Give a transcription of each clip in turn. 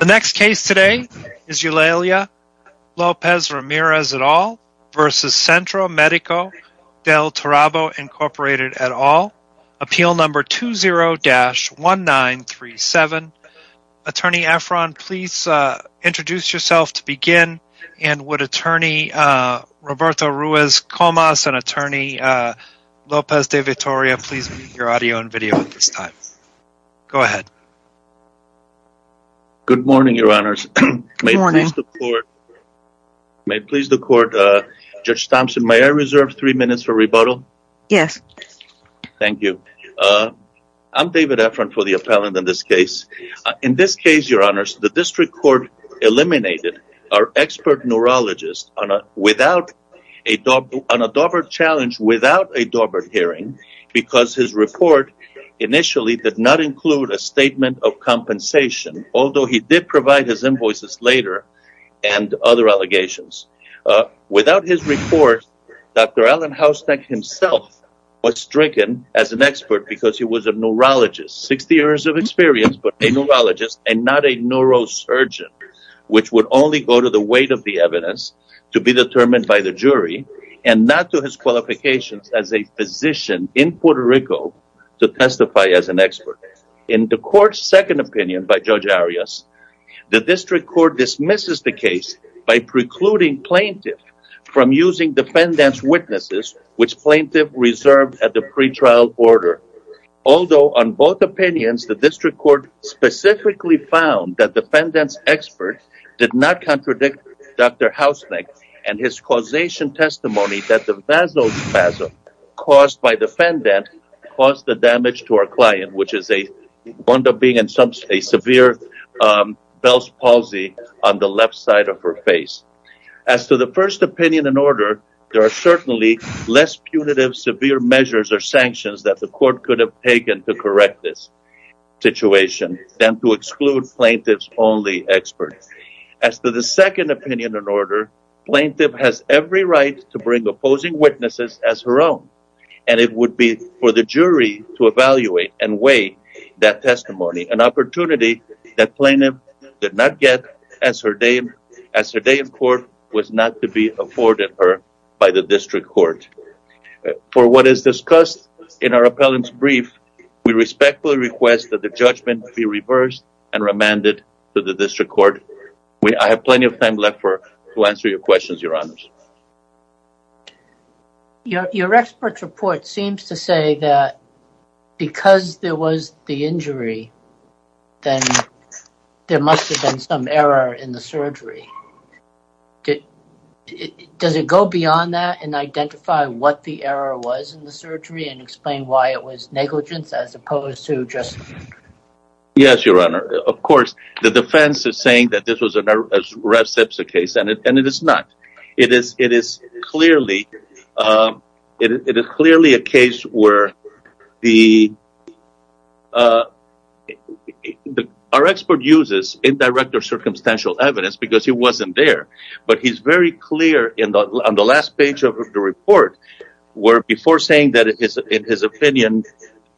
The next case today is Eulalia Lopez-Ramirez et al. versus Centro Medico del Turabo, Inc. et al. Appeal number 20-1937. Attorney Efron, please introduce yourself to begin. And would Attorney Roberto Ruiz Comas and Attorney Lopez de Vitoria please mute your audio and video at this time. Go ahead. Good morning, Your Honors. Good morning. May it please the court, Judge Thompson, may I reserve three minutes for rebuttal? Yes. Thank you. I'm David Efron for the appellant in this case. In this case, Your Honors, the district court eliminated our expert neurologist on a Daubert challenge without a Daubert hearing because his report initially did not include a statement of compensation, although he did provide his invoices later and other allegations. Without his report, Dr. Alan Houseneck himself was stricken as an expert because he was a neurologist, 60 years of experience, but a neurologist and not a neurosurgeon, which would only go to the weight of the evidence to be determined by the jury and not to his qualifications as a physician in Puerto Rico to testify as an expert. In the court's second opinion by Judge Arias, the district court dismisses the case by precluding plaintiff from using defendant's witnesses, which plaintiff reserved at the pretrial order. Although on both opinions, the district court specifically found that defendant's expert did not contradict Dr. Houseneck and his causation testimony that the basal spasm caused by defendant caused the damage to our client, which is a severe Bell's palsy on the left side of her face. As to the first opinion in order, there are certainly less punitive, severe measures or sanctions that the court could have taken to correct this situation than to exclude plaintiff's only experts. As to the second opinion in order, plaintiff has every right to bring opposing witnesses as her own, and it would be for the jury to evaluate and weigh that testimony, an opportunity that plaintiff did not get as her day in court was not to be afforded her by the district court. For what is discussed in our appellant's brief, we respectfully request that the judgment be reversed and remanded to the district court. I have plenty of time left to answer your questions, Your Honors. Your expert's report seems to say that because there was the injury, then there must have been some error in the surgery. Does it go beyond that and identify what the error was in the surgery and explain why it was negligence as opposed to just? Yes, Your Honor. Of course, the defense is saying that this was a reciprocal case, and it is not. It is clearly a case where our expert uses indirect or circumstantial evidence because he wasn't there, but he's very clear on the last page of the report where before saying that his opinion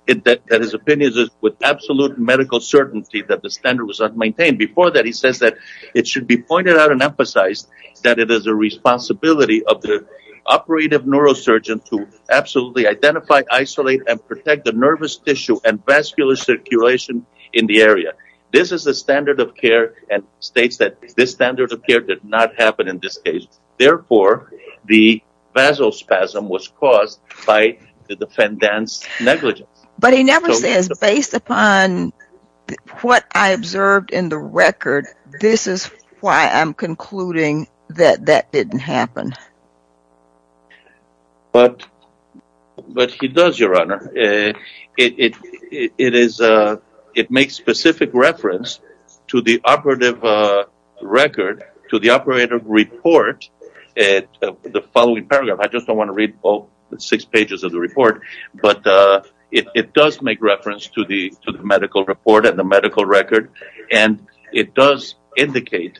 is with absolute medical certainty that the standard was unmaintained, before that he says that it should be pointed out and emphasized that it is the responsibility of the operative neurosurgeon to absolutely identify, isolate, and protect the nervous tissue and vascular circulation in the area. This is the standard of care and states that this standard of care did not happen in this case. Therefore, the vasospasm was caused by the defendant's negligence. But he never says, based upon what I observed in the record, this is why I'm concluding that that didn't happen. But he does, Your Honor. It makes specific reference to the operative record, to the operative report, the following paragraph. I just don't want to read all six pages of the report. But it does make reference to the medical report and the medical record, and it does indicate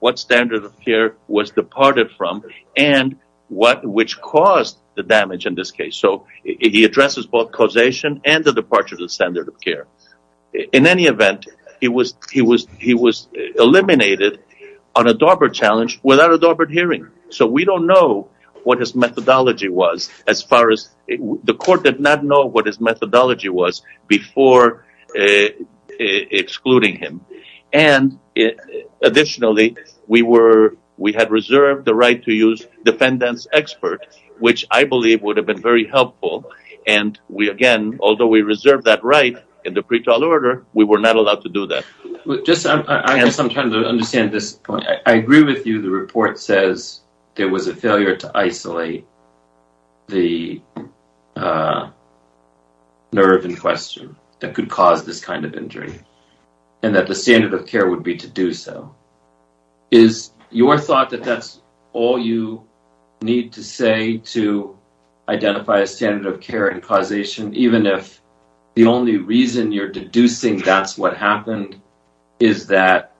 what standard of care was departed from and which caused the damage in this case. So he addresses both causation and the departure of the standard of care. In any event, he was eliminated on a DARPA challenge without a DARPA hearing. So we don't know what his methodology was as far as the court did not know what his methodology was before excluding him. Additionally, we had reserved the right to use defendant's expert, which I believe would have been very helpful. And, again, although we reserved that right in the pretrial order, we were not allowed to do that. I have some time to understand this point. I agree with you the report says there was a failure to isolate the nerve in question that could cause this kind of injury and that the standard of care would be to do so. Is your thought that that's all you need to say to identify a standard of care in causation, even if the only reason you're deducing that's what happened is that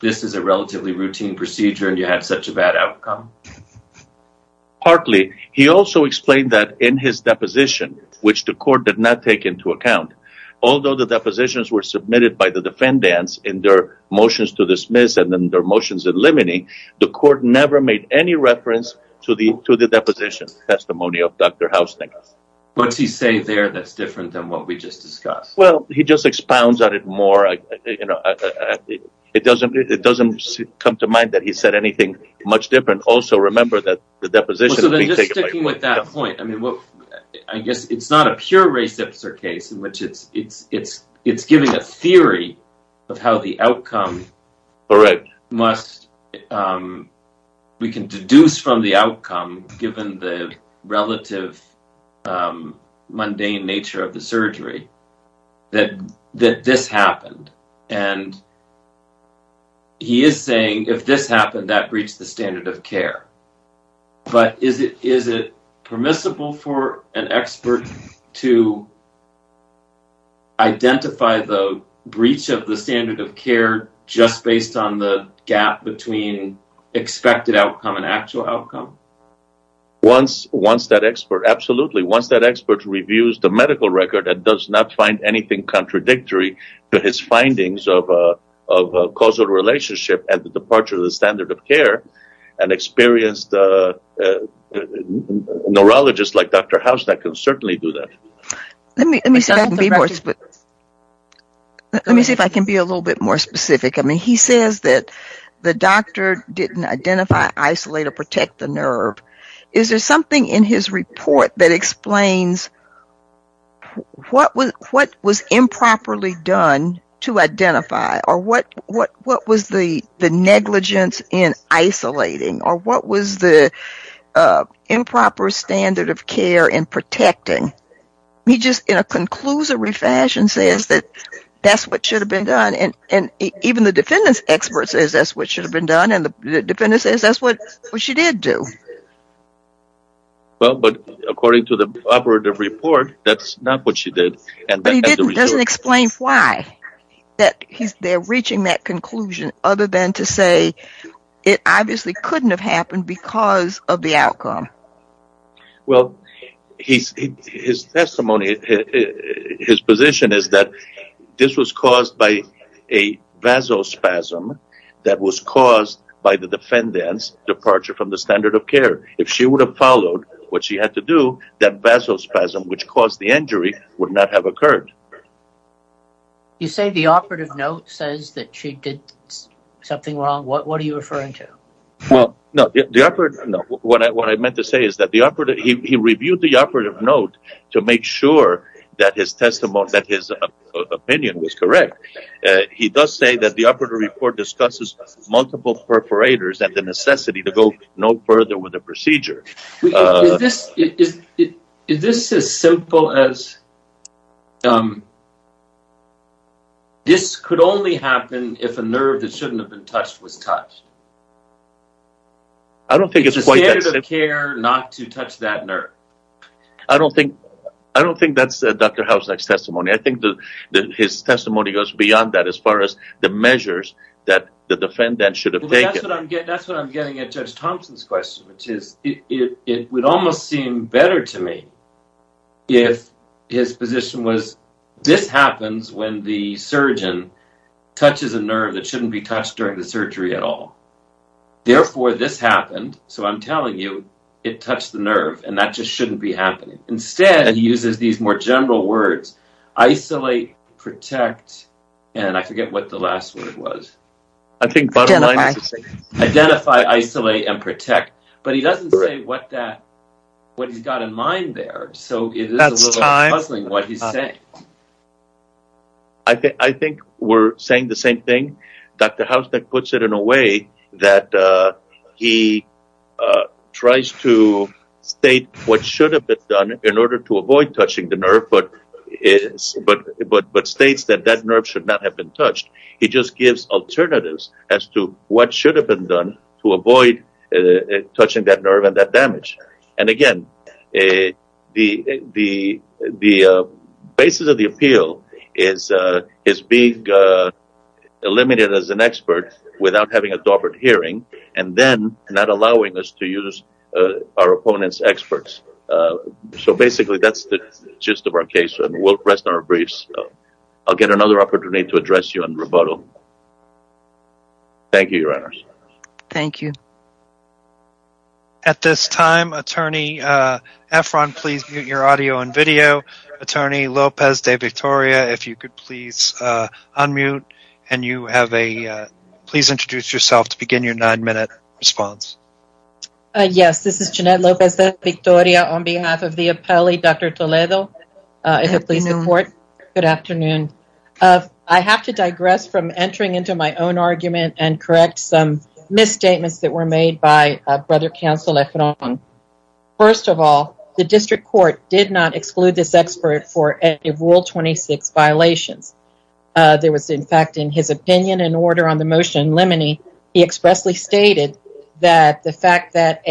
this is a relatively routine procedure and you had such a bad outcome? Partly. He also explained that in his deposition, which the court did not take into account, although the depositions were submitted by the defendants in their motions to dismiss and their motions eliminating, the court never made any reference to the deposition testimony of Dr. Housdink. What's he say there that's different than what we just discussed? Well, he just expounds on it more. It doesn't come to mind that he said anything much different. Also, remember that the deposition… I'm sticking with that point. I guess it's not a pure reciprocal case in which it's giving a theory of how the outcome must – we can deduce from the outcome, given the relative mundane nature of the surgery, that this happened. He is saying if this happened, that breached the standard of care. But is it permissible for an expert to identify the breach of the standard of care just based on the gap between expected outcome and actual outcome? Once that expert – absolutely. Once that expert reviews the medical record and does not find anything contradictory to his findings of causal relationship and the departure of the standard of care, an experienced neurologist like Dr. Housdink can certainly do that. Let me see if I can be a little bit more specific. He says that the doctor didn't identify, isolate, or protect the nerve. Is there something in his report that explains what was improperly done to identify or what was the negligence in isolating or what was the improper standard of care in protecting? He just, in a conclusory fashion, says that that's what should have been done. Even the defendant's expert says that's what should have been done, and the defendant says that's what she did do. But according to the operative report, that's not what she did. But he doesn't explain why he's there reaching that conclusion other than to say it obviously couldn't have happened because of the outcome. Well, his testimony, his position is that this was caused by a vasospasm that was caused by the defendant's departure from the standard of care. If she would have followed what she had to do, that vasospasm which caused the injury would not have occurred. You say the operative note says that she did something wrong. What are you referring to? What I meant to say is that he reviewed the operative note to make sure that his opinion was correct. He does say that the operative report discusses multiple perforators and the necessity to go no further with the procedure. Is this as simple as this could only happen if a nerve that shouldn't have been touched was touched? I don't think it's quite that simple. It's the standard of care not to touch that nerve. I don't think that's Dr. Hausnacht's testimony. I think his testimony goes beyond that as far as the measures that the defendant should have taken. That's what I'm getting at Judge Thompson's question, which is it would almost seem better to me if his position was this happens when the surgeon touches a nerve that shouldn't be touched during the surgery at all. Therefore, this happened, so I'm telling you it touched the nerve, and that just shouldn't be happening. Instead, he uses these more general words, isolate, protect, and I forget what the last word was. Identify, isolate, and protect. But he doesn't say what he's got in mind there, so it is a little puzzling what he's saying. I think we're saying the same thing. Dr. Hausnacht puts it in a way that he tries to state what should have been done in order to avoid touching the nerve but states that that nerve should not have been touched. He just gives alternatives as to what should have been done to avoid touching that nerve and that damage. Again, the basis of the appeal is being eliminated as an expert without having a doper hearing and then not allowing us to use our opponent's experts. Basically, that's the gist of our case, and we'll rest on our briefs. I'll get another opportunity to address you in rebuttal. Thank you, Your Honors. Thank you. At this time, Attorney Efron, please mute your audio and video. Attorney Lopez de Victoria, if you could please unmute, and you have a— please introduce yourself to begin your nine-minute response. Yes, this is Jeanette Lopez de Victoria on behalf of the appellee, Dr. Toledo. Good afternoon. Good afternoon. I have to digress from entering into my own argument and correct some misstatements that were made by Brother Counsel Efron. First of all, the district court did not exclude this expert for any of Rule 26 violations. There was, in fact, in his opinion and order on the motion in limine, he expressly stated that the fact that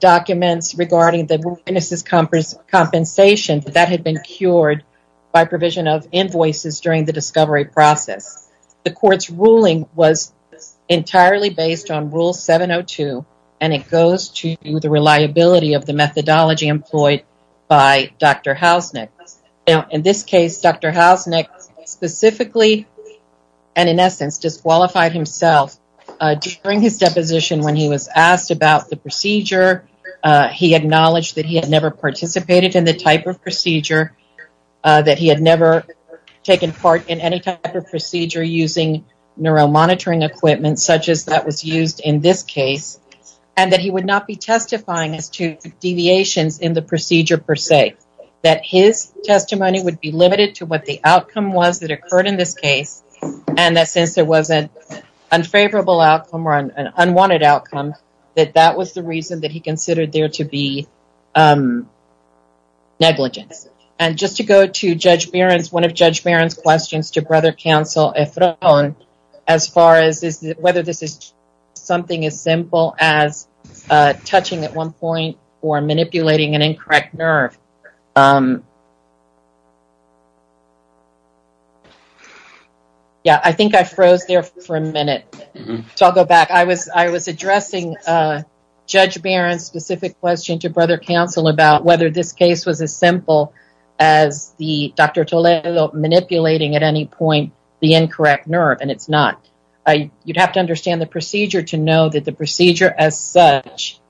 documents regarding the witnesses' compensation, that that had been cured by provision of invoices during the discovery process. The court's ruling was entirely based on Rule 702, and it goes to the reliability of the methodology employed by Dr. Hausnick. Now, in this case, Dr. Hausnick specifically and, in essence, disqualified himself. During his deposition, when he was asked about the procedure, he acknowledged that he had never participated in the type of procedure, that he had never taken part in any type of procedure using neuromonitoring equipment, such as that was used in this case, and that he would not be testifying as to deviations in the procedure per se. That his testimony would be limited to what the outcome was that occurred in this case, and that since there was an unfavorable outcome or an unwanted outcome, that that was the reason that he considered there to be negligence. And just to go to Judge Barron's, one of Judge Barron's questions to Brother Counsel Efron, as far as whether this is something as simple as touching at one point or manipulating an incorrect nerve. Yeah, I think I froze there for a minute, so I'll go back. I was addressing Judge Barron's specific question to Brother Counsel about whether this case was as simple as Dr. Toledo manipulating at any point the incorrect nerve, and it's not. You'd have to understand the procedure to know that the procedure as such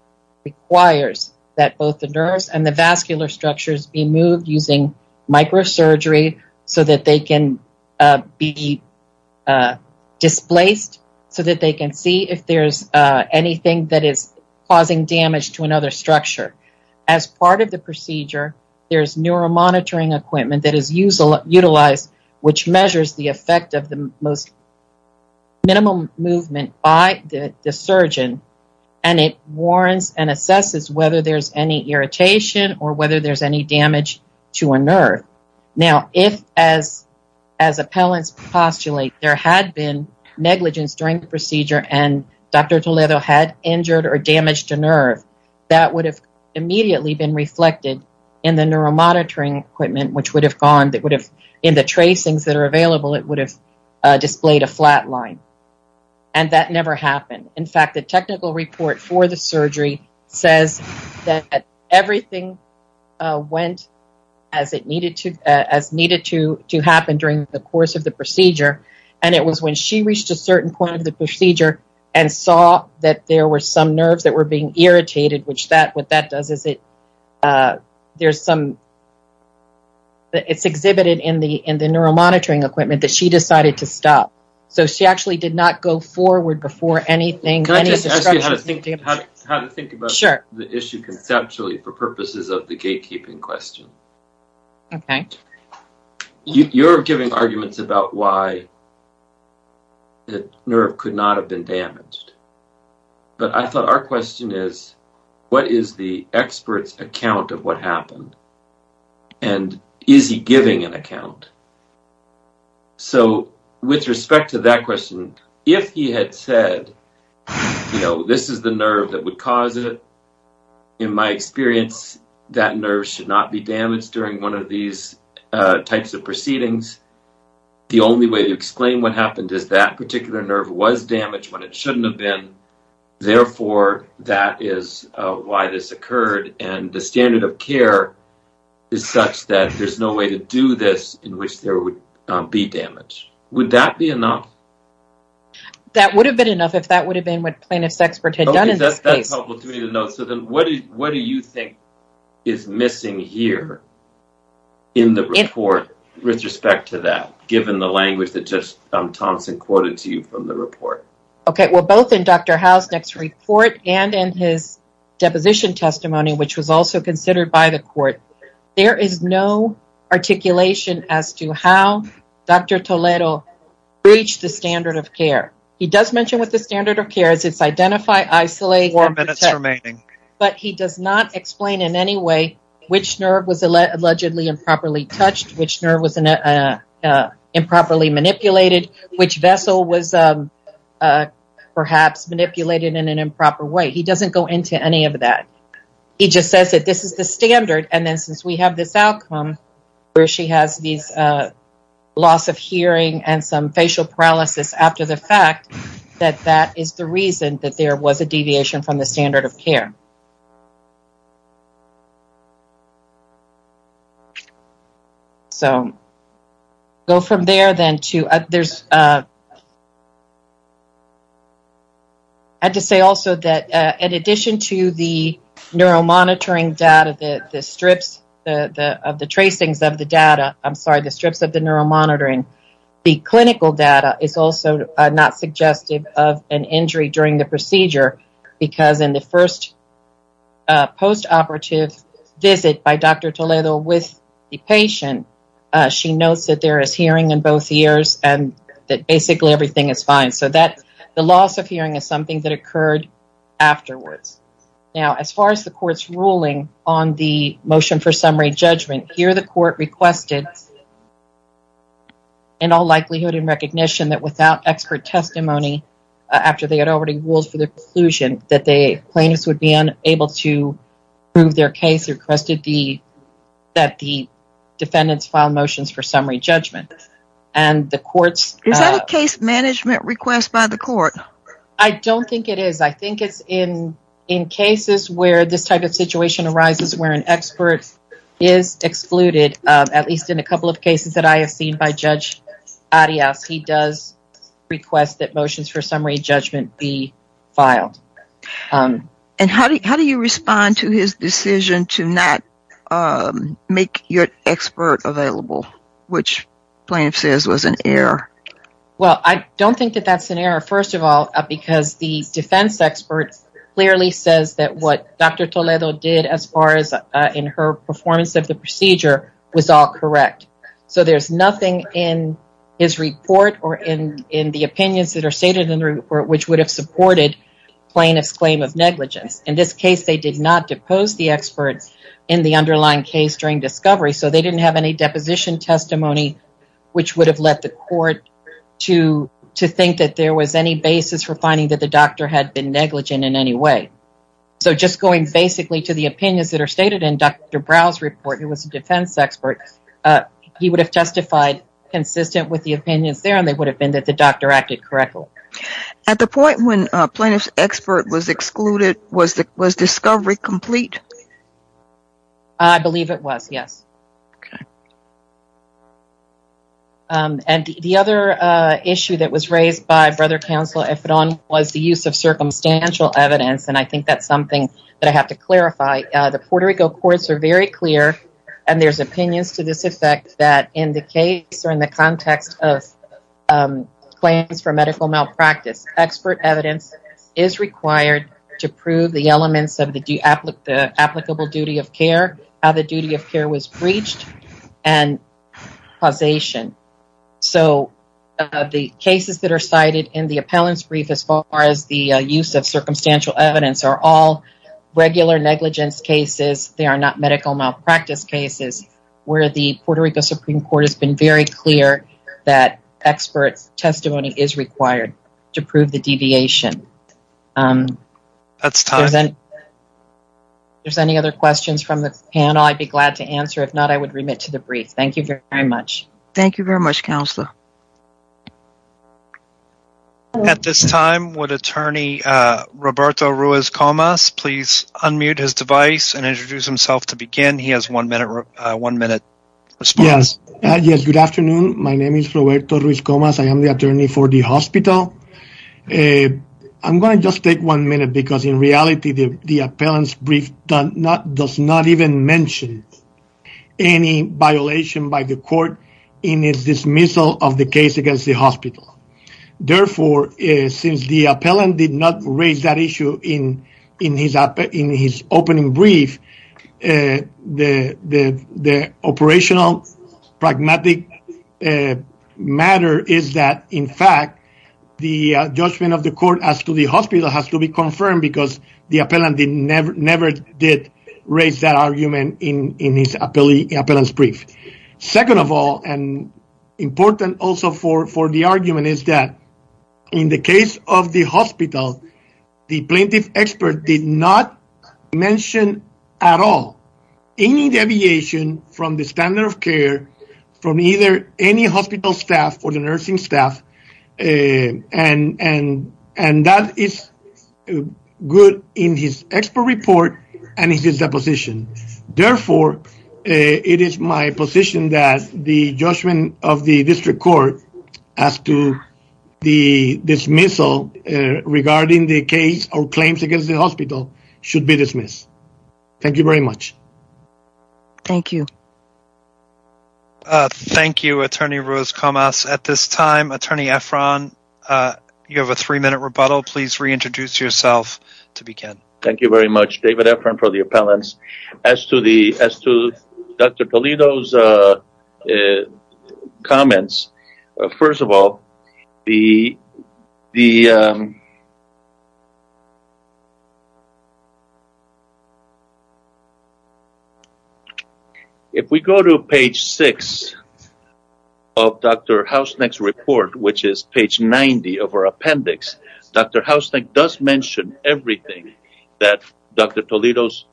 requires that both the nerves and the vascular structures be moved using microsurgery so that they can be displaced, so that they can see if there's anything that is causing damage to another structure. As part of the procedure, there's neuromonitoring equipment that is utilized, which measures the effect of the most minimum movement by the surgeon, and it warrants and assesses whether there's any irritation or whether there's any damage to a nerve. Now, if, as appellants postulate, there had been negligence during the procedure and Dr. Toledo had injured or damaged a nerve, that would have immediately been reflected in the neuromonitoring equipment, which would have gone, that would have, in the tracings that are available, it would have displayed a flat line, and that never happened. In fact, the technical report for the surgery says that everything went as it needed to, as needed to happen during the course of the procedure, and it was when she reached a certain point of the procedure and saw that there were some nerves that were being irritated, which that, what that does is it, there's some, it's exhibited in the neuromonitoring equipment that she decided to stop. So she actually did not go forward before anything, any of the structures. Can I just ask you how to think about the issue conceptually for purposes of the gatekeeping question? Okay. You're giving arguments about why the nerve could not have been damaged, but I thought our question is what is the expert's account of what happened, and is he giving an account? So with respect to that question, if he had said, you know, this is the nerve that would cause it, in my experience, that nerve should not be damaged during one of these types of proceedings, the only way to explain what happened is that particular nerve was damaged when it shouldn't have been. Therefore, that is why this occurred, and the standard of care is such that there's no way to do this in which there would be damage. Would that be enough? That would have been enough if that would have been what plaintiff's expert had done in this case. What do you think is missing here in the report with respect to that, given the language that Judge Thompson quoted to you from the report? Okay, well, both in Dr. Howe's next report and in his deposition testimony, which was also considered by the court, there is no articulation as to how Dr. Toledo breached the standard of care. He does mention what the standard of care is. It's identify, isolate, or protect. Four minutes remaining. But he does not explain in any way which nerve was allegedly improperly touched, which nerve was improperly manipulated, which vessel was perhaps manipulated in an improper way. He doesn't go into any of that. He just says that this is the standard, and then since we have this outcome where she has these loss of hearing and some facial paralysis after the fact, that that is the reason that there was a deviation from the standard of care. So, go from there, then, to there's, I had to say also that in addition to the neuromonitoring data, the strips of the tracings of the data, I'm sorry, the strips of the neuromonitoring, the clinical data is also not suggestive of an injury during the procedure because in the first post-operative visit by Dr. Toledo with the patient, she notes that there is hearing in both ears and that basically everything is fine. So, the loss of hearing is something that occurred afterwards. Now, as far as the court's ruling on the motion for summary judgment, here the court requested in all likelihood and recognition that without expert testimony after they had already ruled for the conclusion that the plaintiffs would be unable to prove their case, requested that the defendants file motions for summary judgment. Is that a case management request by the court? I don't think it is. I think it's in cases where this type of situation arises where an expert is excluded, at least in a couple of cases that I have seen by Judge Arias. He does request that motions for summary judgment be filed. And how do you respond to his decision to not make your expert available, which plaintiff says was an error? Well, I don't think that that's an error, first of all, because the defense expert clearly says that what Dr. Toledo did as far as in her performance of the procedure was all correct. So there's nothing in his report or in the opinions that are stated in the report which would have supported plaintiff's claim of negligence. In this case, they did not depose the expert in the underlying case during discovery, so they didn't have any deposition testimony which would have led the court to think that there was any basis for finding that the doctor had been negligent in any way. So just going basically to the opinions that are stated in Dr. Brown's report, who was a defense expert, he would have testified consistent with the opinions there and they would have been that the doctor acted correctly. At the point when plaintiff's expert was excluded, was discovery complete? I believe it was, yes. Okay. And the other issue that was raised by Brother Counsel Ephedon was the use of circumstantial evidence, and I think that's something that I have to clarify. The Puerto Rico courts are very clear, and there's opinions to this effect, that in the case or in the context of claims for medical malpractice, expert evidence is required to prove the elements of the applicable duty of care, how the duty of care was breached, and causation. So the cases that are cited in the appellant's brief as far as the use of circumstantial evidence are all regular negligence cases. They are not medical malpractice cases where the Puerto Rico Supreme Court has been very clear that expert testimony is required to prove the deviation. That's time. If there's any other questions from the panel, I'd be glad to answer. If not, I would remit to the brief. Thank you very much. Thank you very much, Counselor. At this time, would Attorney Roberto Ruiz-Comas please unmute his device and introduce himself to begin? He has a one-minute response. Yes. Good afternoon. My name is Roberto Ruiz-Comas. I am the attorney for the hospital. I'm going to just take one minute because, in reality, the appellant's brief does not even mention any violation by the court in its dismissal of the case against the hospital. Therefore, since the appellant did not raise that issue in his opening brief, the operational pragmatic matter is that, in fact, the judgment of the court as to the hospital has to be confirmed because the appellant never did raise that argument in his appellant's brief. Second of all, and important also for the argument, is that, in the case of the hospital, the plaintiff expert did not mention at all any deviation from the standard of care from either any hospital staff or the nursing staff. And that is good in his expert report and his deposition. Therefore, it is my position that the judgment of the district court as to the dismissal regarding the case or claims against the hospital should be dismissed. Thank you very much. Thank you. Thank you, Attorney Ruiz-Comas. At this time, Attorney Efron, you have a three-minute rebuttal. Please reintroduce yourself to begin. Thank you very much, David Efron, for the appellants. As to Dr. Toledo's comments, first of all, if we go to page 6 of Dr. Hausknecht's report, which is page 90 of our appendix, Dr. Hausknecht does mention everything that Dr. Toledo's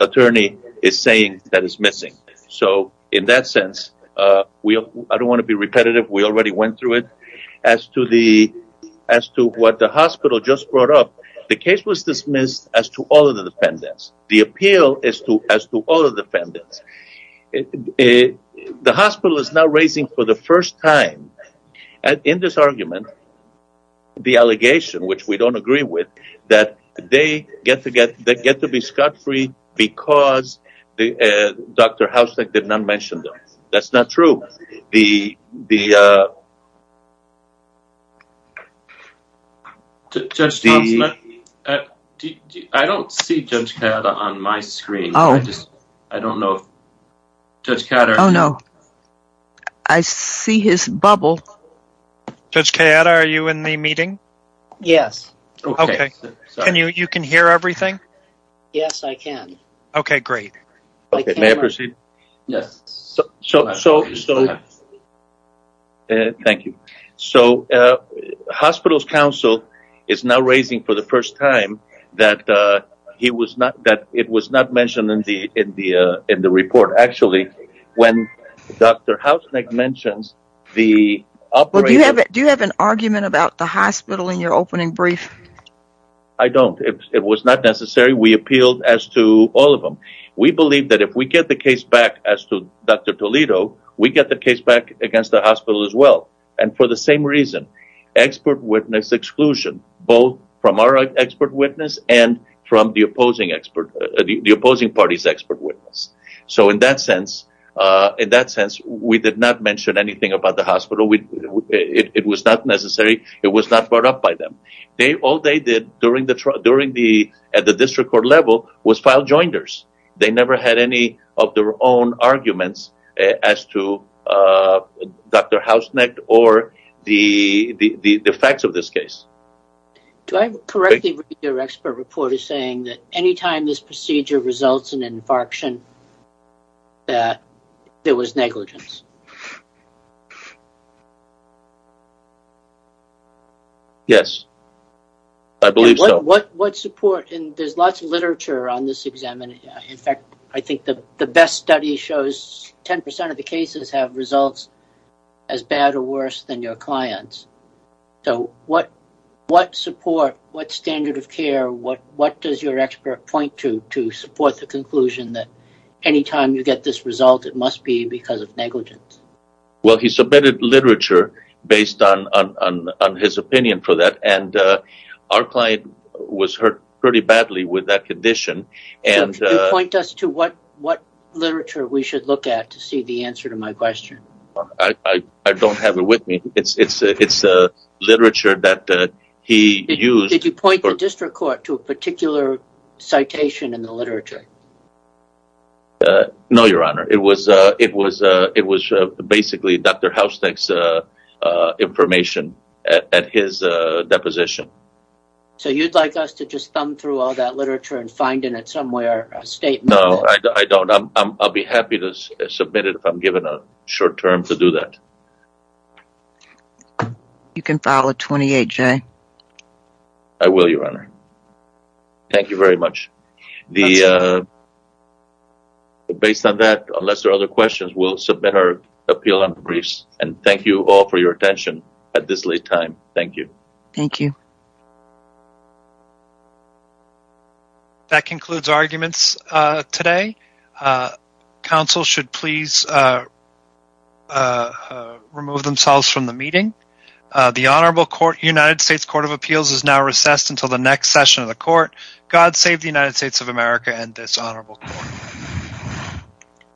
attorney is saying that is missing. So, in that sense, I don't want to be repetitive. We already went through it. As to what the hospital just brought up, the case was dismissed as to all of the defendants. The appeal is as to all of the defendants. The hospital is now raising for the first time in this argument the allegation, which we don't agree with, that they get to be scot-free because Dr. Hausknecht did not mention them. That's not true. I don't see Judge Kayada on my screen. I don't know. Oh, no. I see his bubble. Judge Kayada, are you in the meeting? Yes. Okay. You can hear everything? Yes, I can. Okay, great. May I proceed? Yes. Thank you. So, hospital's counsel is now raising for the first time that it was not mentioned in the report. Actually, when Dr. Hausknecht mentions the operator... Do you have an argument about the hospital in your opening brief? I don't. It was not necessary. We appealed as to all of them. We believe that if we get the case back as to Dr. Toledo, we get the case back against the hospital as well, and for the same reason, expert witness exclusion, both from our expert witness and from the opposing party's expert witness. So, in that sense, we did not mention anything about the hospital. It was not necessary. It was not brought up by them. All they did at the district court level was file jointers. They never had any of their own arguments as to Dr. Hausknecht or the facts of this case. Do I correctly read your expert report as saying that any time this procedure results in an infarction that there was negligence? Yes. I believe so. There's lots of literature on this exam. In fact, I think the best study shows 10% of the cases have results as bad or worse than your clients. So, what support, what standard of care, what does your expert point to to support the conclusion that any time you get this result, it must be because of negligence? Well, he submitted literature based on his opinion for that, and our client was hurt pretty badly with that condition. Point us to what literature we should look at to see the answer to my question. I don't have it with me. It's literature that he used. Did you point the district court to a particular citation in the literature? No, Your Honor. It was basically Dr. Hausknecht's information at his deposition. So, you'd like us to just thumb through all that literature and find in it somewhere a statement? No, I don't. I'll be happy to submit it if I'm given a short term to do that. You can file a 28, Jay. I will, Your Honor. Thank you very much. Based on that, unless there are other questions, we'll submit our appeal and briefs. And thank you all for your attention at this late time. Thank you. Thank you. That concludes arguments today. Counsel should please remove themselves from the meeting. The United States Court of Appeals is now recessed until the next session of the court. God save the United States of America and this honorable court.